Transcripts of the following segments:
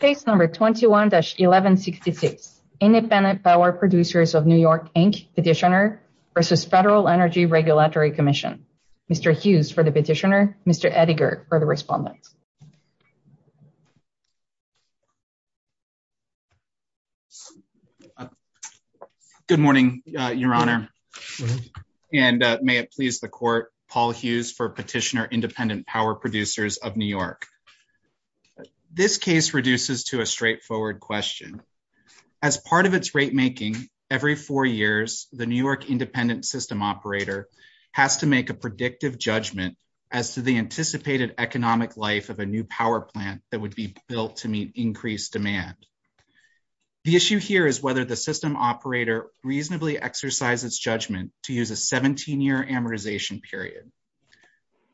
Case number 21-1166, Independent Power Producers of New York, Inc. Petitioner v. Federal Energy Regulatory Commission. Mr. Hughes for the petitioner, Mr. Ettinger for the respondent. Good morning, Your Honor, and may it please the Court, Paul Hughes for Petitioner Independent Power Producers of New York. This case reduces to a straightforward question. As part of its rate-making, every four years, the New York independent system operator has to make a predictive judgment as to the anticipated economic life of a new power plant that would be built to meet increased demand. The issue here is whether the system operator reasonably exercise its judgment to use a 17-year amortization period.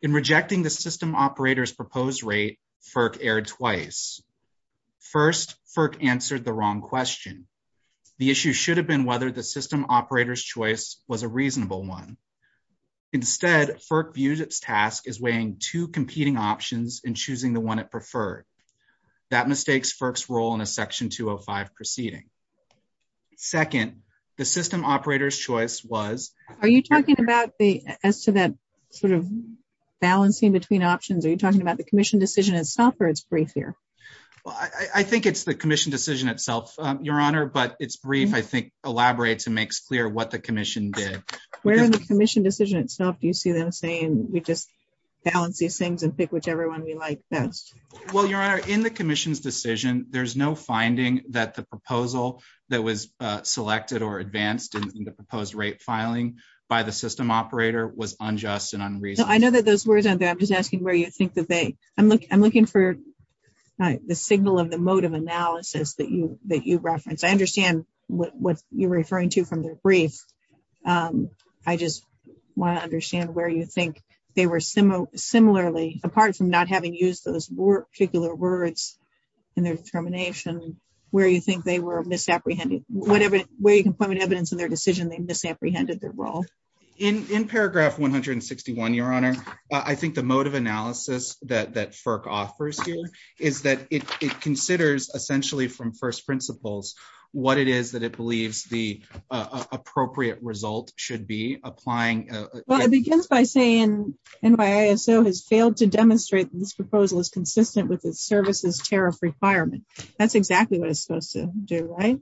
In rejecting the system operator's proposed rate, FERC erred twice. First, FERC answered the wrong question. The issue should have been whether the system operator's choice was a reasonable one. Instead, FERC views its task as weighing two competing options and choosing the one it preferred. That mistakes FERC's role in a Section 205 proceeding. Second, the system operator's choice was... Are you talking about the commission decision itself or it's brief here? I think it's the commission decision itself, Your Honor, but it's brief, I think, elaborates and makes clear what the commission did. Where in the commission decision itself do you see them saying, we just balance these things and pick whichever one we like best? Well, Your Honor, in the commission's decision, there's no finding that the proposal that was selected or advanced in the proposed rate filing by the system operator was unjust and unreasonable. I know that those words aren't there. I'm just asking where you think that they... I'm looking for the signal of the mode of analysis that you referenced. I understand what you're referring to from their brief. I just want to understand where you think they were similarly, apart from not having used those particular words in their determination, where you think they were misapprehended? Where you can find evidence in their decision they misapprehended their role? In paragraph 161, Your Honor, I think the mode of analysis that FERC offers here is that it considers essentially from first principles what it is that it believes the appropriate result should be applying. Well, it begins by saying NYISO has failed to demonstrate that this proposal is consistent with its services tariff requirement. That's exactly what it's supposed to do, right?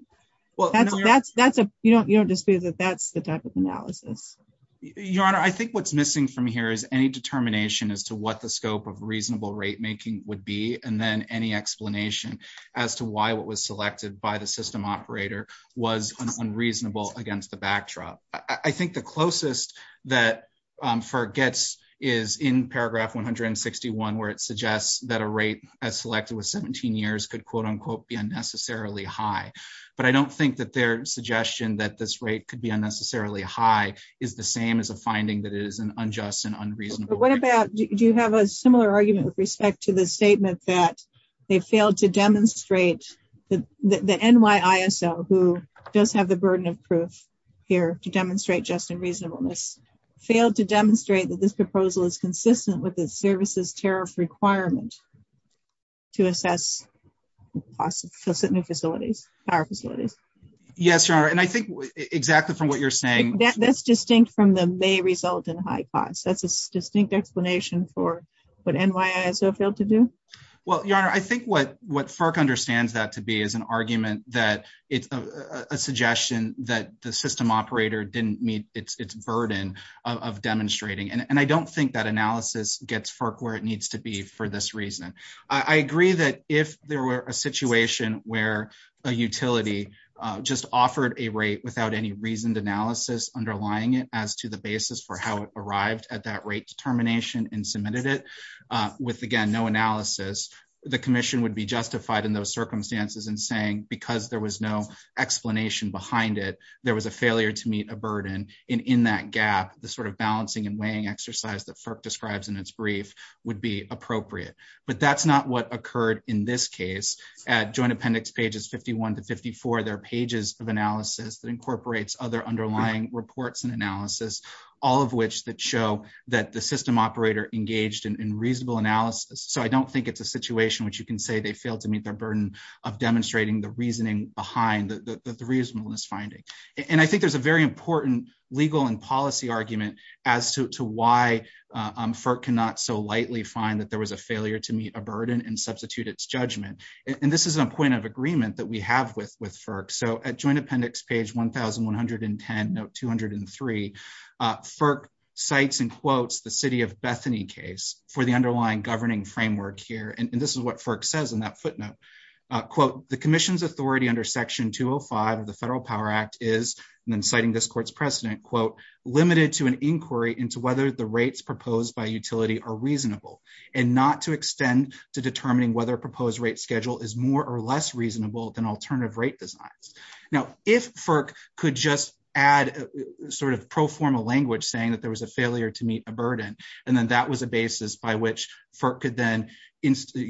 You don't dispute that that's the type of analysis. Your Honor, I think what's missing from here is any determination as to what the scope of reasonable rate making would be, and then any explanation as to why what was selected by the system operator was unreasonable against the backdrop. I think the closest that FERC gets is in paragraph 161, where it suggests that a rate as selected with 17 years could quote unquote be unnecessarily high. But I don't think that their suggestion that this rate could be unnecessarily high is the same as a finding that it is an unjust and unreasonable. What about, do you have a similar argument with respect to the statement that they failed to demonstrate the NYISO, who does have the burden of proof? Here to demonstrate just and reasonableness. Failed to demonstrate that this proposal is consistent with the services tariff requirement to assess cost of facilities, power facilities. Yes, Your Honor, and I think exactly from what you're saying. That's distinct from the may result in high cost. That's a distinct explanation for what NYISO failed to do. Well, Your Honor, I think what FERC understands that to be is an argument that it's a suggestion that the system operator didn't meet its burden of demonstrating. And I don't think that analysis gets FERC where it needs to be for this reason. I agree that if there were a situation where a utility just offered a rate without any reasoned analysis underlying it as to the basis for how it arrived at that rate termination and submitted it with, again, no analysis, the commission would be justified in those circumstances and saying, because there was no explanation behind it, there was a failure to meet a burden. And in that gap, the sort of balancing and weighing exercise that FERC describes in its brief would be appropriate. But that's not what occurred in this case. At joint appendix pages 51 to 54, there are pages of analysis that incorporates other underlying reports and analysis, all of which that show that the system operator engaged in reasonable analysis. So I don't think it's a situation which you can say they failed to meet their burden of demonstrating the reasoning behind the reasonableness finding. And I think there's a very important legal and policy argument as to why FERC cannot so lightly find that there was a failure to meet a burden and substitute its judgment. And this is a point of agreement that we have with FERC. So at joint appendix page 1110, note 203, FERC cites and quotes the city of Bethany case for the underlying governing framework here. And this is what FERC says in that footnote, quote, the commission's authority under section 205 of the Federal Power Act is, and then citing this court's precedent, quote, limited to an inquiry into whether the rates proposed by utility are reasonable and not to extend to determining whether a proposed rate is more or less reasonable than alternative rate designs. Now, if FERC could just add sort of proformal language saying that there was a failure to meet a burden, and then that was a basis by which FERC could then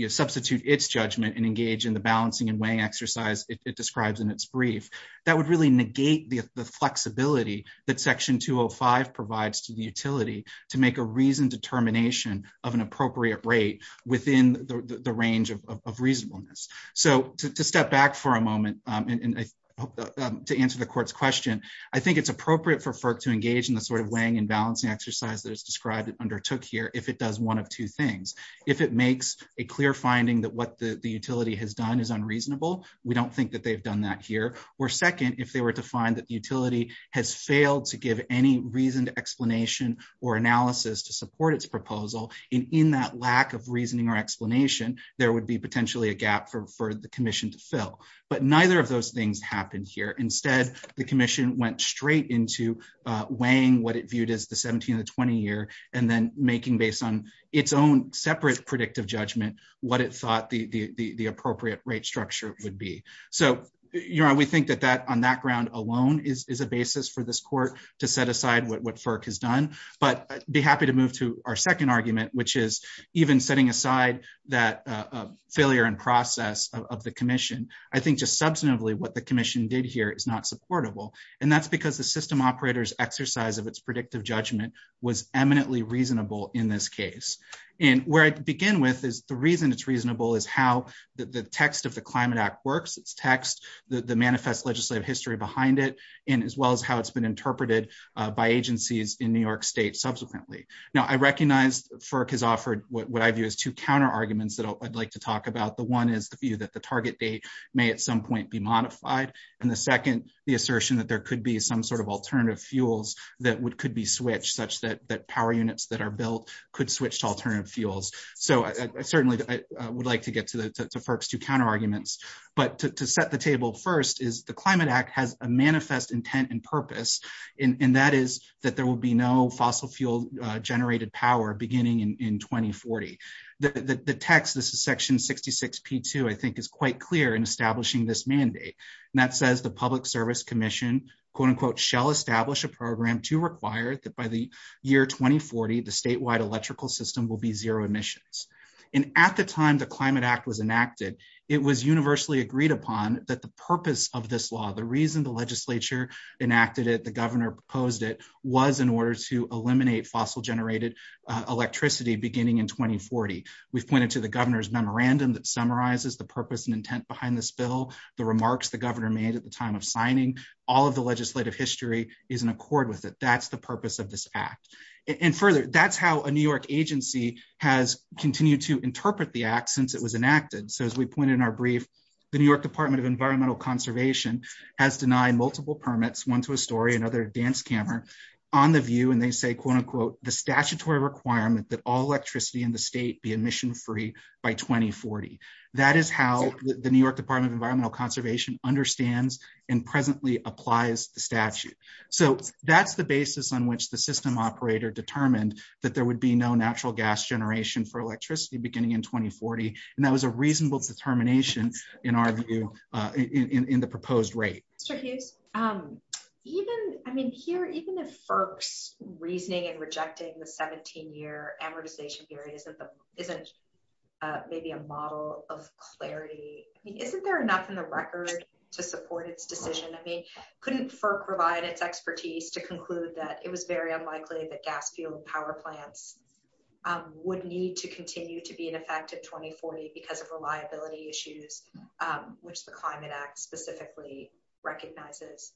substitute its judgment and engage in the balancing and weighing exercise it describes in its brief, that would really negate the flexibility that section 205 provides to the utility to make a reasoned determination of an appropriate rate within the range of reasonableness. So to step back for a moment, and I hope to answer the court's question, I think it's appropriate for FERC to engage in the sort of weighing and balancing exercise that is described and undertook here if it does one of two things. If it makes a clear finding that what the utility has done is unreasonable, we don't think that they've done that here. Or second, if they were to find that the utility has failed to give any reasoned explanation, there would be potentially a gap for the commission to fill. But neither of those things happened here. Instead, the commission went straight into weighing what it viewed as the 17 and the 20 year, and then making based on its own separate predictive judgment what it thought the appropriate rate structure would be. So we think that on that ground alone is a basis for this court to set aside what FERC has done. But I'd be happy to move to our second argument, which is even setting aside that failure and process of the commission, I think just substantively what the commission did here is not supportable. And that's because the system operators exercise of its predictive judgment was eminently reasonable in this case. And where I begin with is the reason it's reasonable is how the text of the Climate Act works, its text, the manifest legislative history behind it, and as well as how it's been interpreted by agencies in New York State subsequently. Now, I recognize FERC has offered what I view as two counterarguments that I'd like to talk about. The one is the view that the target date may at some point be modified. And the second, the assertion that there could be some sort of alternative fuels that could be switched such that power units that are built could switch to alternative fuels. So I certainly would like to get to FERC's two counterarguments. But to set the table first is the Climate Act has a manifest intent and purpose. And that is that there will be no fossil fuel generated power beginning in 2040. The text, this is section 66 P2, I think is quite clear in establishing this mandate. And that says the Public Service Commission, quote unquote, shall establish a program to require that by the year 2040, the statewide electrical system will be zero emissions. And at the time the Climate Act was enacted, it was universally agreed upon that the purpose of this law, the reason the legislature enacted it, the governor proposed it was in order to eliminate fossil generated electricity beginning in 2040. We've pointed to the governor's memorandum that summarizes the purpose and intent behind this bill, the remarks the governor made at the time of signing, all of the legislative history is in accord with it. That's the purpose of this act. And further, that's how a New York agency has continued to interpret the act since it was enacted. So as we pointed in our brief, the New York Department of Environmental Conservation has denied multiple permits, one to a story, another dance camera on the view, and they say, quote unquote, the statutory requirement that all electricity in the state be emission free by 2040. That is how the New York Department of Environmental Conservation understands and presently applies the statute. So that's the basis on which the system operator determined that there would be no natural gas generation for electricity beginning in 2040. And that was reasonable determination, in our view, in the proposed rate. Even I mean, here, even if folks reasoning and rejecting the 17 year amortization period isn't maybe a model of clarity, isn't there enough in the record to support its decision? I mean, couldn't for provide its expertise to conclude that it was very unlikely that gas fuel power plants would need to continue to be an effective 2040 because of reliability issues, which the Climate Act specifically recognizes?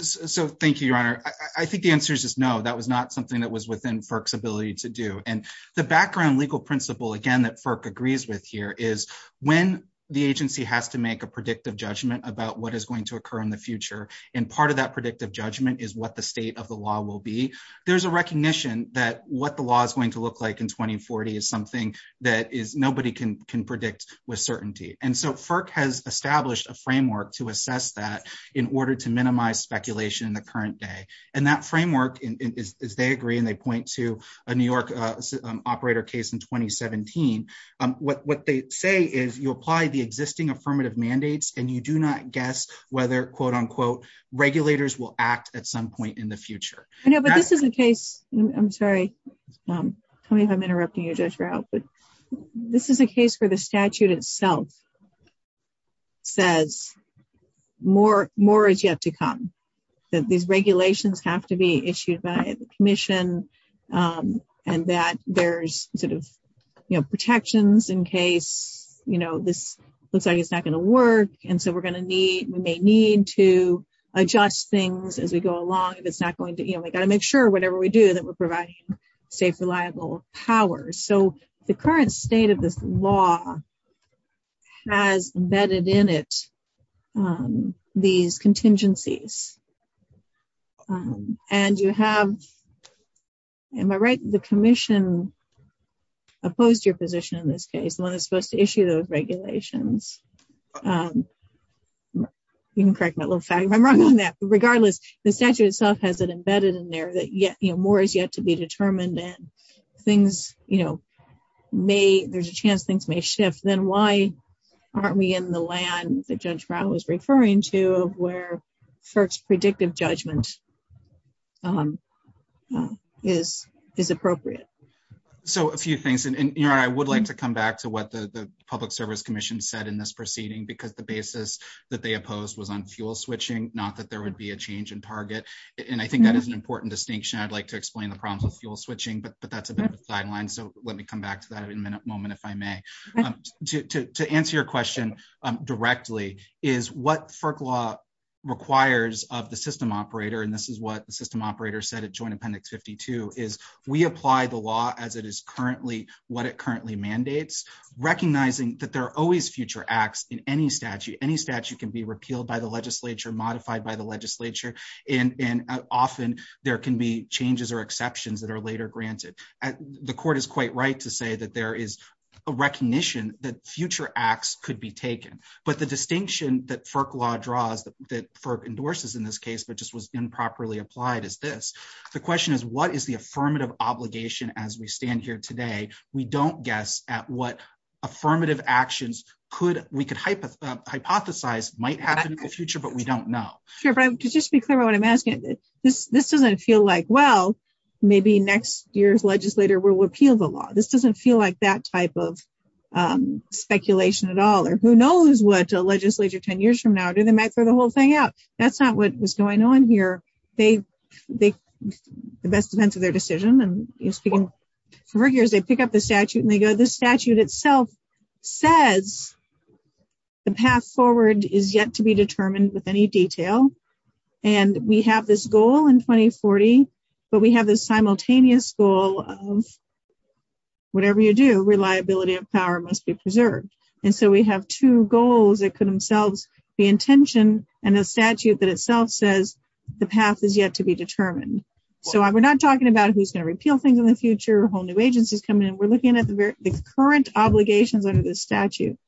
So thank you, Your Honor, I think the answer is no, that was not something that was within FERC's ability to do. And the background legal principle, again, that FERC agrees with here is when the agency has to make a predictive judgment about what is going to occur in the future. And part of that predictive judgment is what the state of the there's a recognition that what the law is going to look like in 2040 is something that is nobody can can predict with certainty. And so FERC has established a framework to assess that in order to minimize speculation in the current day. And that framework is they agree and they point to a New York operator case in 2017. What they say is you apply the existing affirmative mandates and you do not guess whether quote unquote, regulators will act at some point in future. I know, but this is a case, I'm sorry, tell me if I'm interrupting you, Judge Rao, but this is a case where the statute itself says more is yet to come, that these regulations have to be issued by the commission and that there's sort of, you know, protections in case, you know, this looks like it's not going to work. And so we're going to need, we may need to adjust things as we go along if it's not going to, you know, we got to make sure whatever we do that we're providing safe, reliable power. So the current state of this law has embedded in it these contingencies and you have, am I right, the commission opposed your position in this case, the one that's supposed to issue those regulations. You can correct my little fact, if I'm wrong on that, regardless, the statute itself has it embedded in there that yet, you know, more is yet to be determined and things, you know, may, there's a chance things may shift, then why aren't we in the land that Judge Rao was referring to where first predictive judgment is appropriate. So a few things, and you know, I would like to come back to what the public service commission said in this proceeding, because the basis that they opposed was on fuel switching, not that there would be a change in target. And I think that is an important distinction. I'd like to explain the problems with fuel switching, but that's a bit of a sideline. So let me come back to that in a moment, if I may, to answer your question directly is what FERC law requires of the system operator. And this is what the system operator said at joint appendix 52 is we apply the law as it is currently what it currently mandates, recognizing that there are always future acts in any statute, any statute can be repealed by the legislature modified by the legislature. And, and often there can be changes or exceptions that are later granted. The court is quite right to say that there is a recognition that future acts could be taken, but the distinction that FERC law draws that FERC endorses in this case, but just was improperly applied as this, the question is what is the affirmative obligation as we stand here today, we don't guess at what affirmative actions could, we could hypothesize might happen in the future, but we don't know. Sure. But just to be clear about what I'm asking, this, this doesn't feel like, well, maybe next year's legislator will repeal the law. This doesn't feel like that type of speculation at all, or who knows what a legislature 10 years from now, do they might throw the whole thing out? That's not what was going on here. They, they, the best defense of their decision and speaking for years, they pick up the statute and they go, the statute itself says the path forward is yet to be determined with any detail. And we have this goal in 2040, but we have this simultaneous goal of whatever you do, reliability of power must be preserved. And so we have two goals that could themselves be intention and a statute that itself says the path is yet to be determined. So we're not talking about who's going to repeal things in the future, whole new agencies coming in. We're looking at the current obligations under the statute.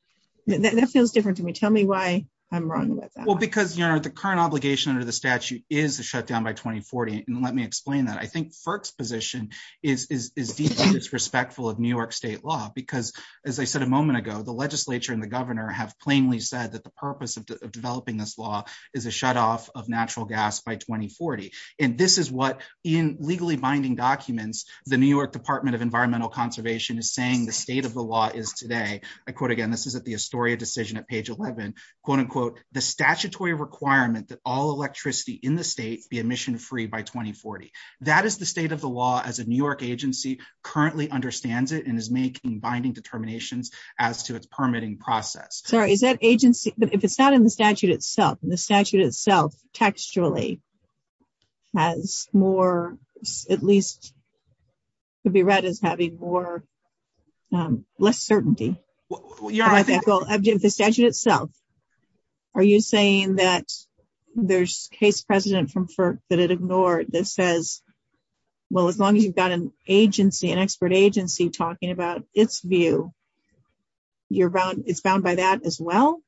That feels different to me. Tell me why I'm wrong. Well, because you're the current obligation under the statute is to shut down by 2040. And let me explain that. I think first position is, is, is respectful of New York state law, because as I said, a moment ago, the legislature and the governor have plainly said that the purpose of developing this law is a shutoff of natural gas by 2040. And this is what in legally binding documents, the New York Department of Environmental Conservation is saying the state of the law is today. I quote again, this is at the Astoria decision at page 11, quote, unquote, the statutory requirement that all electricity in the state be emission free by 2040. That is the state of the law as a New York agency currently understands it and is making binding determinations as to its permitting process. Sorry, is that agency, but if it's not in the statute itself, the statute itself textually has more, at least could be read as having more less certainty. Well, the statute itself, are you saying that there's case precedent from FERC that it ignored that says, well, as long as you've got an agency, an expert agency talking about its you, you're bound. It's bound by that as well.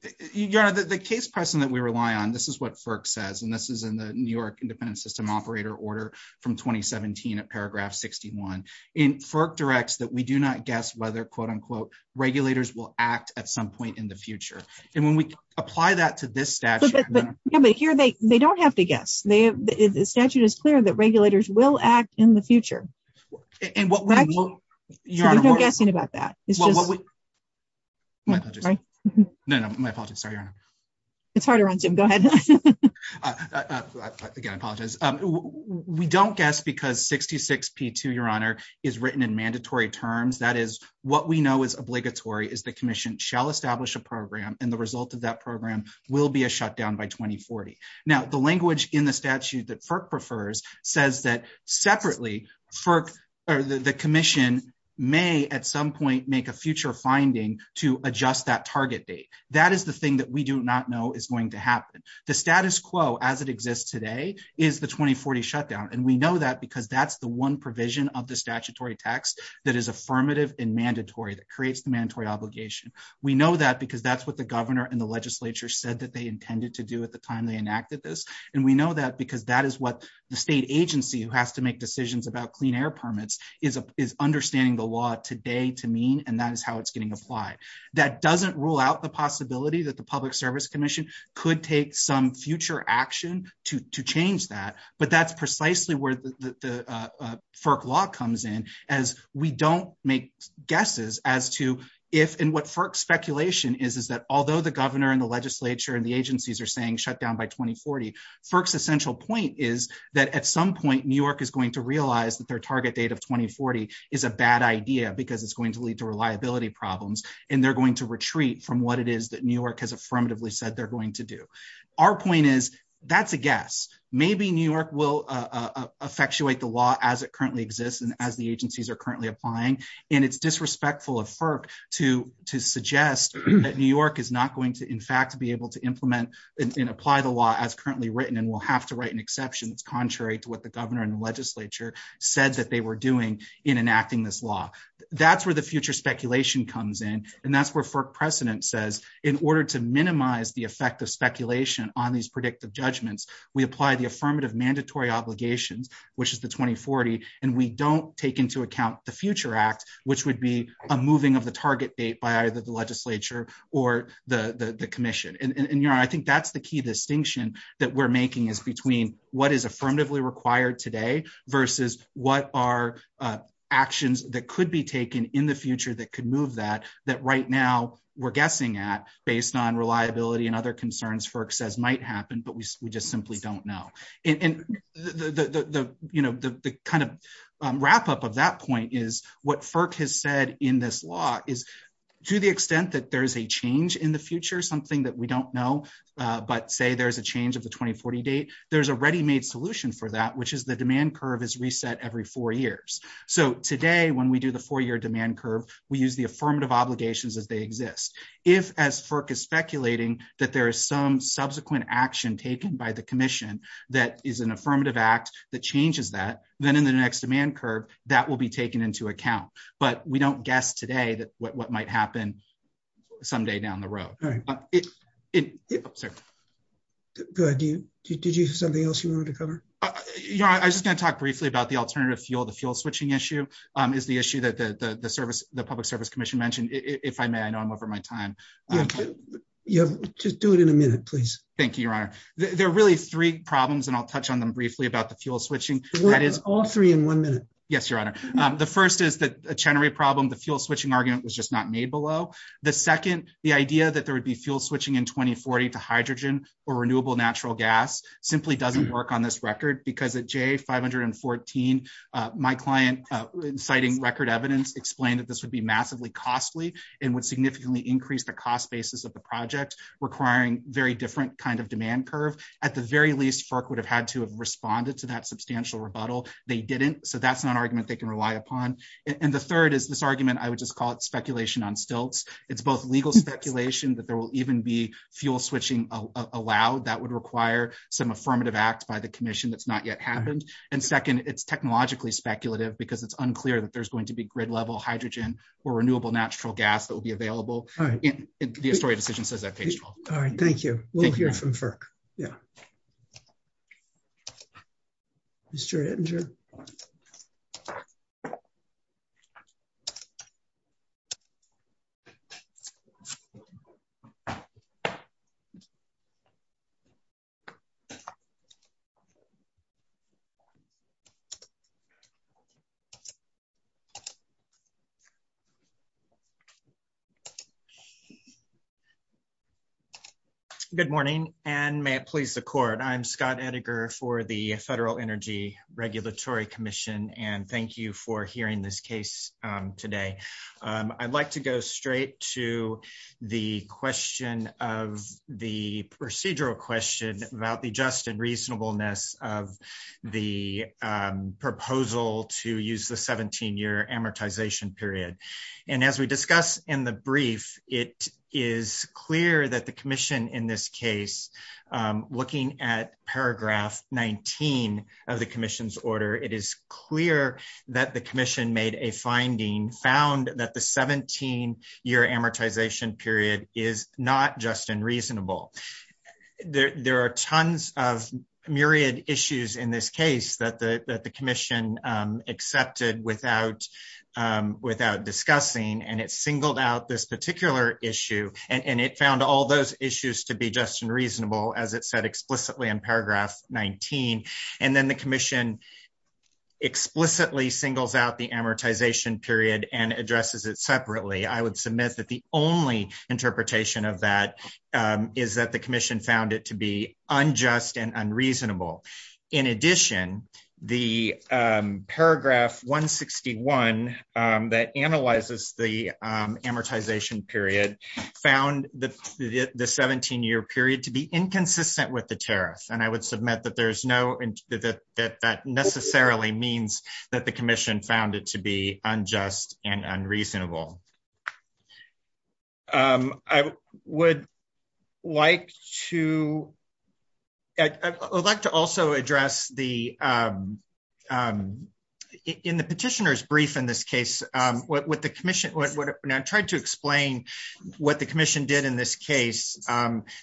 The case precedent that we rely on, this is what FERC says, and this is in the New York independent system operator order from 2017 at paragraph 61 in FERC directs that we do not guess whether quote, unquote, regulators will act at some point in the future. And when we apply that to this statute here, they don't have to guess they have the statute is clear that regulators will act in the future. And what you're guessing about that, it's just, no, no, my apologies. Sorry. It's harder on Jim. Go ahead. Again, I apologize. We don't guess because 66 P2, your honor is written in mandatory terms. That is what we know is obligatory is the commission shall establish a program. And the result of that program will be a shutdown by 2040. Now the language in the statute that FERC prefers says that separately for the commission may at some point make a future finding to adjust that target date. That is the thing that we do not know is going to happen. The status quo as it exists today is the 2040 shutdown. And we know that because that's the one provision of the statutory tax that is affirmative and mandatory that creates the mandatory obligation. We know that because that's what the governor and the legislature said that they intended to do at the time they enacted this. And we know that because that is what the state agency who has to make decisions about clean air permits is understanding the law today to mean, and that is how it's getting applied. That doesn't rule out the possibility that the public service commission could take some future action to change that. But that's precisely where the FERC law comes in as we don't make guesses as to if, and what FERC speculation is, is that although the governor and the legislature and FERC's essential point is that at some point New York is going to realize that their target date of 2040 is a bad idea because it's going to lead to reliability problems. And they're going to retreat from what it is that New York has affirmatively said they're going to do. Our point is that's a guess. Maybe New York will effectuate the law as it currently exists and as the agencies are currently applying. And it's disrespectful of FERC to suggest that New York is not going to, in fact, be able to implement and apply the law as currently written. And we'll have to write an exception that's contrary to what the governor and the legislature said that they were doing in enacting this law. That's where the future speculation comes in. And that's where FERC precedent says in order to minimize the effect of speculation on these predictive judgments, we apply the affirmative mandatory obligations, which is the 2040. And we don't take into account the future act, which would be a moving of the target date by either the legislature or the commission. And I think that's the key distinction that we're making is between what is affirmatively required today versus what are actions that could be taken in the future that could move that, that right now we're guessing at based on reliability and other concerns FERC says might happen, but we just simply don't know. And the kind of wrap up of that point is what FERC has said in this law is to the extent that there's a change in the future, something that we don't know, but say there's a change of the 2040 date, there's a ready-made solution for that, which is the demand curve is reset every four years. So today, when we do the four-year demand curve, we use the affirmative obligations as they exist. If as FERC is speculating that there is some subsequent action taken by the commission that is an affirmative act that changes that, then in the next demand curve, that will be taken into account, but we don't guess today that what might happen someday down the road. Did you have something else you wanted to cover? I was just going to talk briefly about the alternative fuel, the fuel switching issue is the issue that the service, the public service commission mentioned. If I may, I know I'm over my time. Just do it in a minute, please. Thank you, your honor. There are really three problems and I'll touch on them briefly about fuel switching. All three in one minute. Yes, your honor. The first is the Chenery problem, the fuel switching argument was just not made below. The second, the idea that there would be fuel switching in 2040 to hydrogen or renewable natural gas simply doesn't work on this record because at J514, my client citing record evidence explained that this would be massively costly and would significantly increase the cost basis of the project requiring very different kind of substantial rebuttal. They didn't, so that's not an argument they can rely upon. And the third is this argument, I would just call it speculation on stilts. It's both legal speculation that there will even be fuel switching allowed that would require some affirmative act by the commission that's not yet happened. And second, it's technologically speculative because it's unclear that there's going to be grid level hydrogen or renewable natural gas that will be available. The historic decision says that page 12. All right. Thank you. We'll hear from FERC. Mr. Edinger. So good morning and may it please the court. I'm Scott Edinger for the Federal Energy Regulatory Commission and thank you for hearing this case today. I'd like to go straight to the question of the procedural question about the just and reasonableness of the proposal to use the 17-year amortization period. And as we discussed in the brief, it is clear that the commission in this case, looking at paragraph 19 of the commission's order, it is clear that the is not just and reasonable. There are tons of myriad issues in this case that the commission accepted without discussing and it singled out this particular issue and it found all those issues to be just and reasonable as it said explicitly in paragraph 19. And then the commission explicitly singles out the amortization period and addresses it separately. I would that the only interpretation of that is that the commission found it to be unjust and unreasonable. In addition, the paragraph 161 that analyzes the amortization period found the 17-year period to be inconsistent with the tariff. And I would submit that that necessarily means that the I would like to, I would like to also address the, in the petitioner's brief in this case, what the commission, when I tried to explain what the commission did in this case,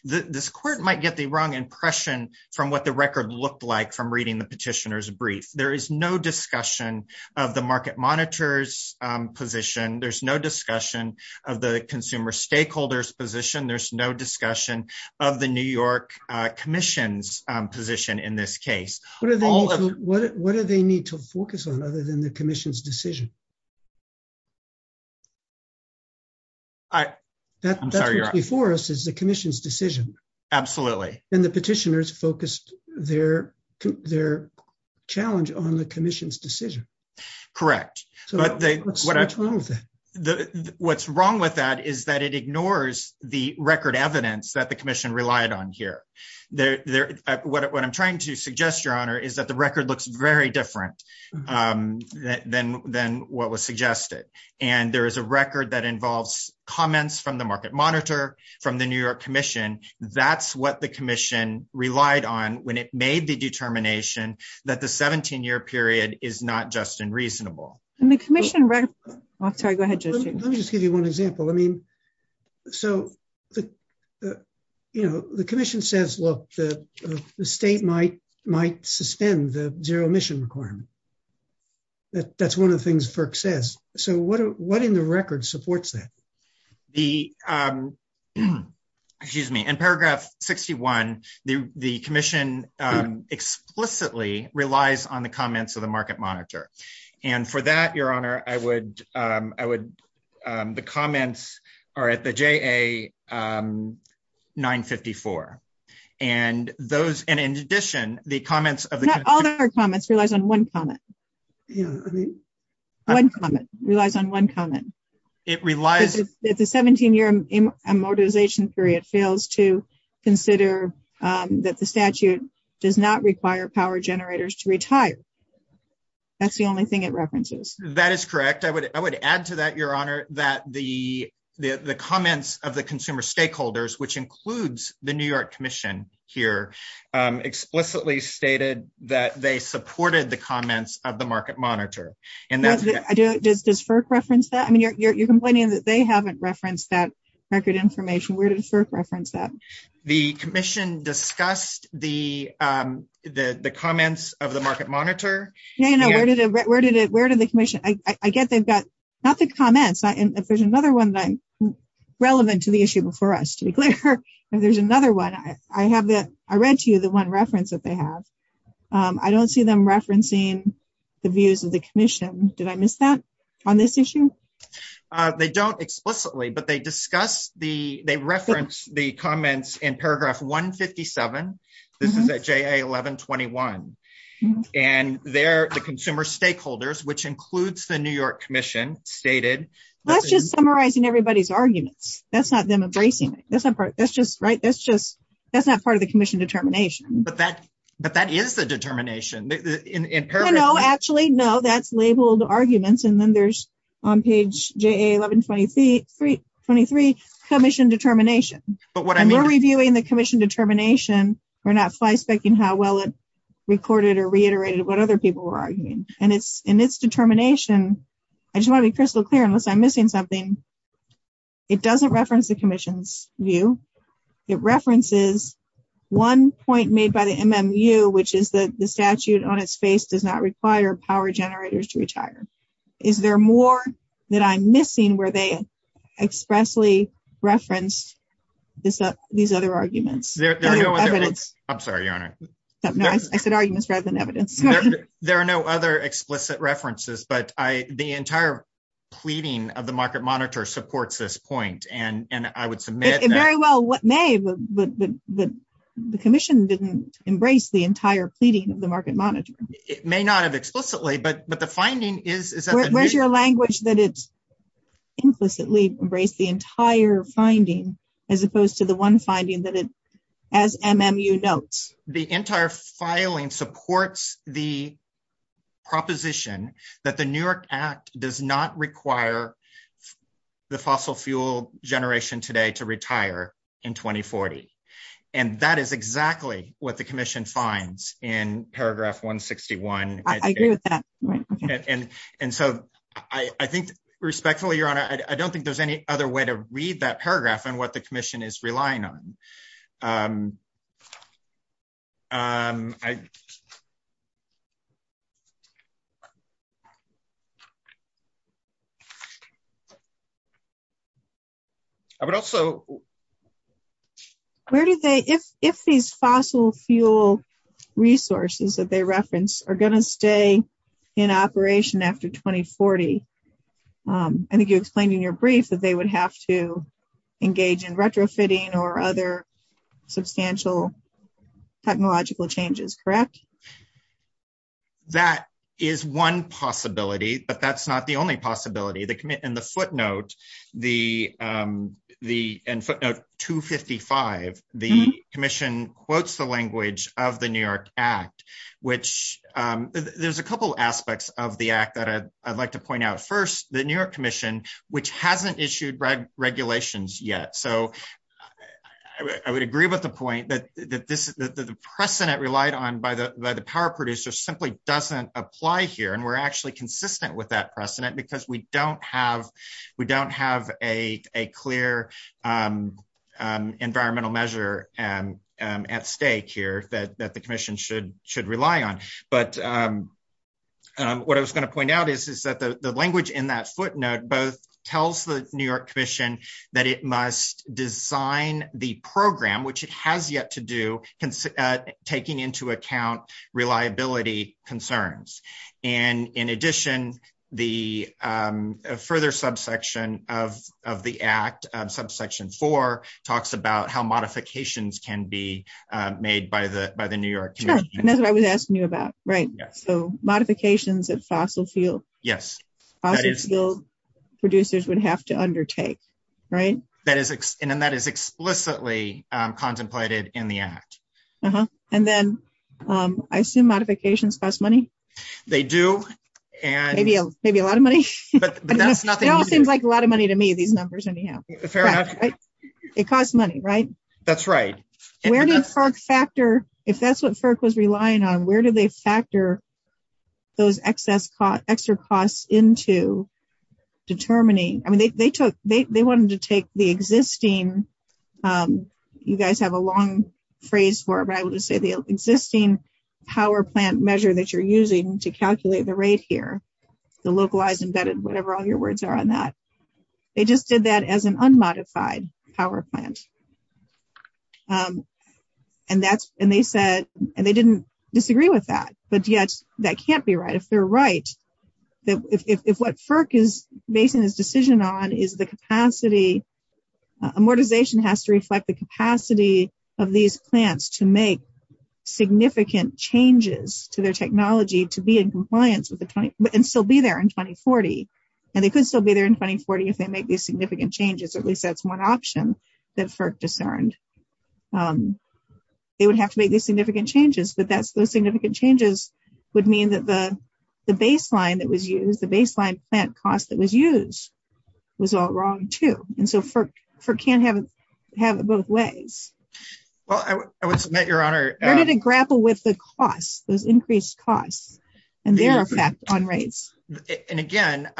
this court might get the wrong impression from what the record looked like from reading the petitioner's brief. There is no discussion of the market monitor's position. There's no discussion of the consumer stakeholder's position. There's no discussion of the New York commission's position in this case. What do they need to focus on other than the commission's decision? I'm sorry, your honor. That before us is the commission's decision. Absolutely. And the petitioners focused their challenge on the commission's decision. Correct. What's wrong with that is that it ignores the record evidence that the commission relied on here. What I'm trying to suggest, your honor, is that the record looks very different than what was suggested. And there is a record that involves comments from the market monitor, from the New York commission. That's what the commission relied on when it made the determination that the 17-year period is not just unreasonable. Let me just give you one example. The commission says, look, the state might suspend the zero emission requirement. That's one of the things FERC says. What in the record supports that? In paragraph 61, the commission explicitly relies on the comments of the market monitor. And for that, your honor, the comments are at the JA 954. And in addition, the comments of the market monitor relies on one comment. It relies... That the 17-year immobilization period fails to consider that the statute does not require power generators to retire. That's the only thing it references. That is correct. I would add to that, your honor, that the comments of the consumer stakeholders, which includes the New York commission here, explicitly stated that they supported the market monitor. Does FERC reference that? I mean, you're complaining that they haven't referenced that record information. Where did FERC reference that? The commission discussed the comments of the market monitor. Yeah, where did the commission... I get they've got... Not the comments. If there's another one relevant to the issue before us, to be clear. If there's another one, I read to you the one that they have. I don't see them referencing the views of the commission. Did I miss that on this issue? They don't explicitly, but they discuss the... They reference the comments in paragraph 157. This is at JA 1121. And there, the consumer stakeholders, which includes the New York commission, stated... That's just summarizing everybody's arguments. That's not them embracing it. That's not part... That's just... Right? That's just... That's not part of the commission determination. But that is the determination. In paragraph... No, actually, no. That's labeled arguments. And then there's on page JA 1123, commission determination. But what I mean... We're reviewing the commission determination. We're not fly specking how well it recorded or reiterated what other people were arguing. And it's in its determination. I just want to be crystal clear, unless I'm missing something. It doesn't reference the commission's view. It references one point made by the MMU, which is that the statute on its face does not require power generators to retire. Is there more that I'm missing where they expressly referenced these other arguments? I'm sorry, your honor. No, I said arguments rather than evidence. There are no other explicit references, but the entire pleading of the market monitor supports this point. And I would submit... It very well may, but the commission didn't embrace the entire pleading of the market monitor. It may not have explicitly, but the finding is... Where's your language that it's implicitly embraced the entire finding, as opposed to one finding that it, as MMU notes? The entire filing supports the proposition that the New York Act does not require the fossil fuel generation today to retire in 2040. And that is exactly what the commission finds in paragraph 161. I agree with that. And so I think respectfully, your honor, I don't think there's any other way to read that paragraph on what the commission is relying on. I would also... Where do they... If these fossil fuel resources that they reference are going to stay in operation after 2040, I think you explained in your brief that they would have to engage in retrofitting or other substantial technological changes, correct? That is one possibility, but that's not the only possibility. In the footnote, and footnote 255, the commission quotes the language of the New York Act, which there's a couple aspects of the act that I'd like to point out. First, the New York commission, which hasn't issued regulations yet. So I would agree with the point that the precedent relied on by the power producer simply doesn't apply here. And we're actually consistent with that precedent because we don't have a clear environmental measure at stake here that the commission should rely on. But what I was going to point out is that the language in that footnote both tells the New York commission that it must design the program, which it has yet to do, taking into account reliability concerns. And in addition, the further subsection of the act, subsection 4, talks about how modifications can be made by the New York commission. And that's what I was asking you about, right? So modifications at fossil fuel. Yes. Fossil fuel producers would have to undertake, right? And that is explicitly contemplated in the act. And then I assume modifications cost money? They do. Maybe a lot of money. It all seems like a lot of money to me, these numbers. It costs money, right? That's right. If that's what FERC was relying on, where do they factor those extra costs into determining? I mean, they wanted to take the existing, you guys have a long phrase for it, but I will just say the existing power plant measure that you're using to calculate the rate here, the localized, embedded, whatever all your words are on that. They just did that as an unmodified power plant. And they said, and they didn't disagree with that, but yet that can't be right. If they're right, that if what FERC is basing this decision on is the capacity, amortization has to reflect the capacity of these plants to make significant changes to their technology to be in compliance with the 20, and still be there in 2040. And they could still be there in 2040 if they make these significant changes, at least that's one option that FERC discerned. They would have to make these significant changes, but those significant changes would mean that the baseline that was used, the baseline plant cost that was used was all wrong too. And so FERC can't have it both ways. Well, I would submit, Your Honor. Where did it grapple with the costs, those increased costs and their effect on rates? And again,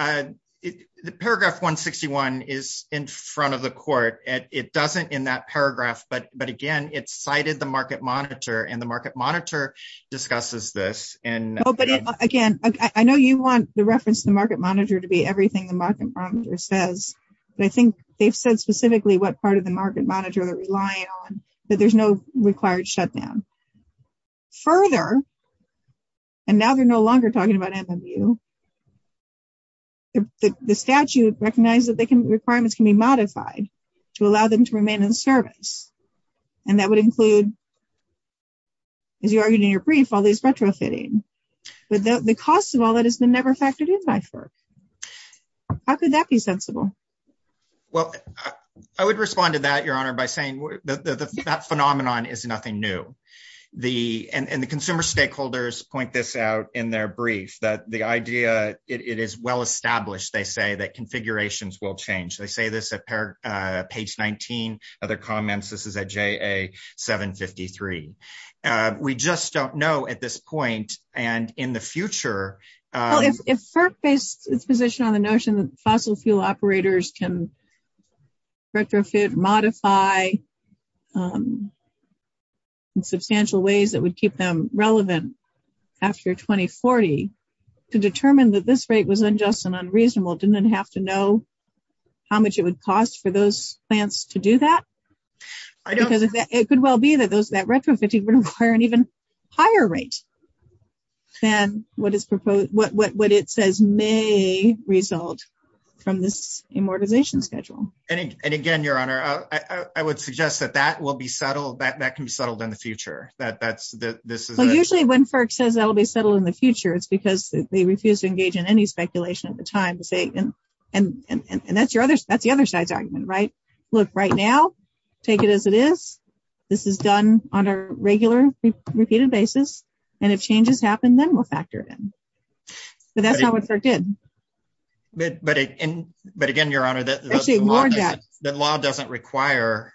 the paragraph 161 is in front of the court. It doesn't in that paragraph, but again, it's cited the market monitor and the market monitor discusses this. Oh, but again, I know you want the reference to the market monitor to be everything the market says, but I think they've said specifically what part of the market monitor they're relying on, that there's no required shutdown. Further, and now they're no longer talking about MMU, the statute recognized that requirements can be modified to allow them to remain in service. And that would include, as you argued in your brief, all these retrofitting, but the cost of all that has been never factored in by FERC. How could that be sensible? Well, I would respond to that, Your Honor, by saying that phenomenon is nothing new. And the consumer stakeholders point this out in their brief, that the idea, it is well-established, they say, that configurations will change. They say this at page 19 of their comments. This is at JA 753. We just don't know at this point and in the future. Well, if FERC based its position on the notion that fossil fuel operators can retrofit, modify in substantial ways that would keep them relevant after 2040, to determine that this rate was unjust and unreasonable, didn't it have to know how much it would cost for those plants to do that? It could well be that retrofitting would require an even higher rate than what it says may result from this immortization schedule. And again, Your Honor, I would suggest that that can be settled in the future. Usually when FERC says that will be settled in the future, it's because they refuse to engage in any speculation at the time. And that's the other side's argument, right? Look, right now, take it as it is. This is done on a regular, repeated basis. And if changes happen, then we'll factor it in. But that's not what FERC did. But again, Your Honor, the law doesn't require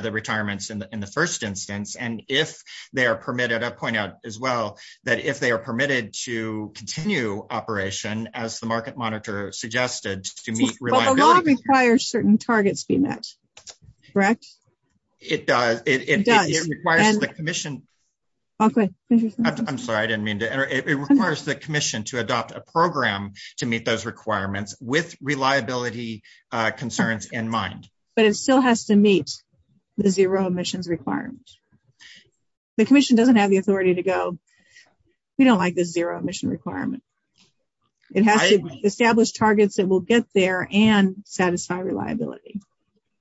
the retirements in the first instance. And if they are permitted, I'll point out as well, that if they are permitted to continue operation, as the market monitor suggested, to meet reliability... The law requires certain targets be met, correct? It does. It requires the commission... I'm sorry, I didn't mean to interrupt. It requires the commission to adopt a program to meet those requirements with reliability concerns in mind. But it still has to meet the zero emissions requirement. The commission doesn't have the authority to go, we don't like the zero emission requirement. It has to establish targets that will get there and satisfy reliability.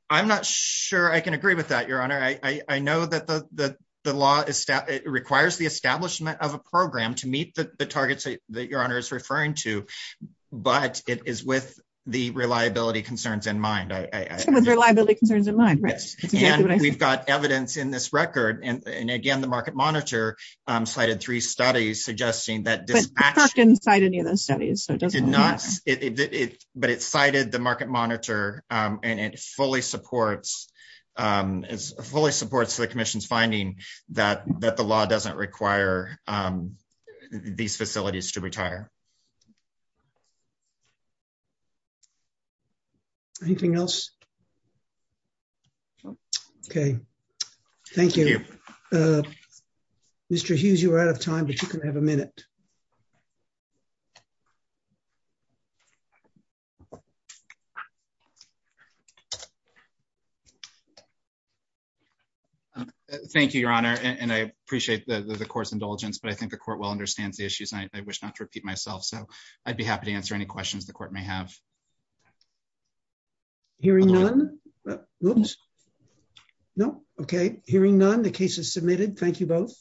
I'm not sure I can agree with that, Your Honor. I know that the law requires the establishment of a program to meet the targets that Your Honor is referring to, but it is with the reliability concerns in mind. It's with reliability concerns in mind, right? And we've got evidence in this record. And again, the market monitor cited three studies suggesting that dispatch... But FERC didn't cite any of those studies. It did not, but it cited the market monitor and it fully supports the commission's finding that the law doesn't require these facilities to retire. Anything else? Okay, thank you. Mr. Hughes, you're out of time, but you can have a minute. Thank you, Your Honor. And I appreciate the court's indulgence, but I think the court well understands the issues. I wish not to repeat myself. So I'd be happy to answer any questions the court may have. Hearing none. Oops. No. Okay. Hearing none, the case is submitted. Thank you both.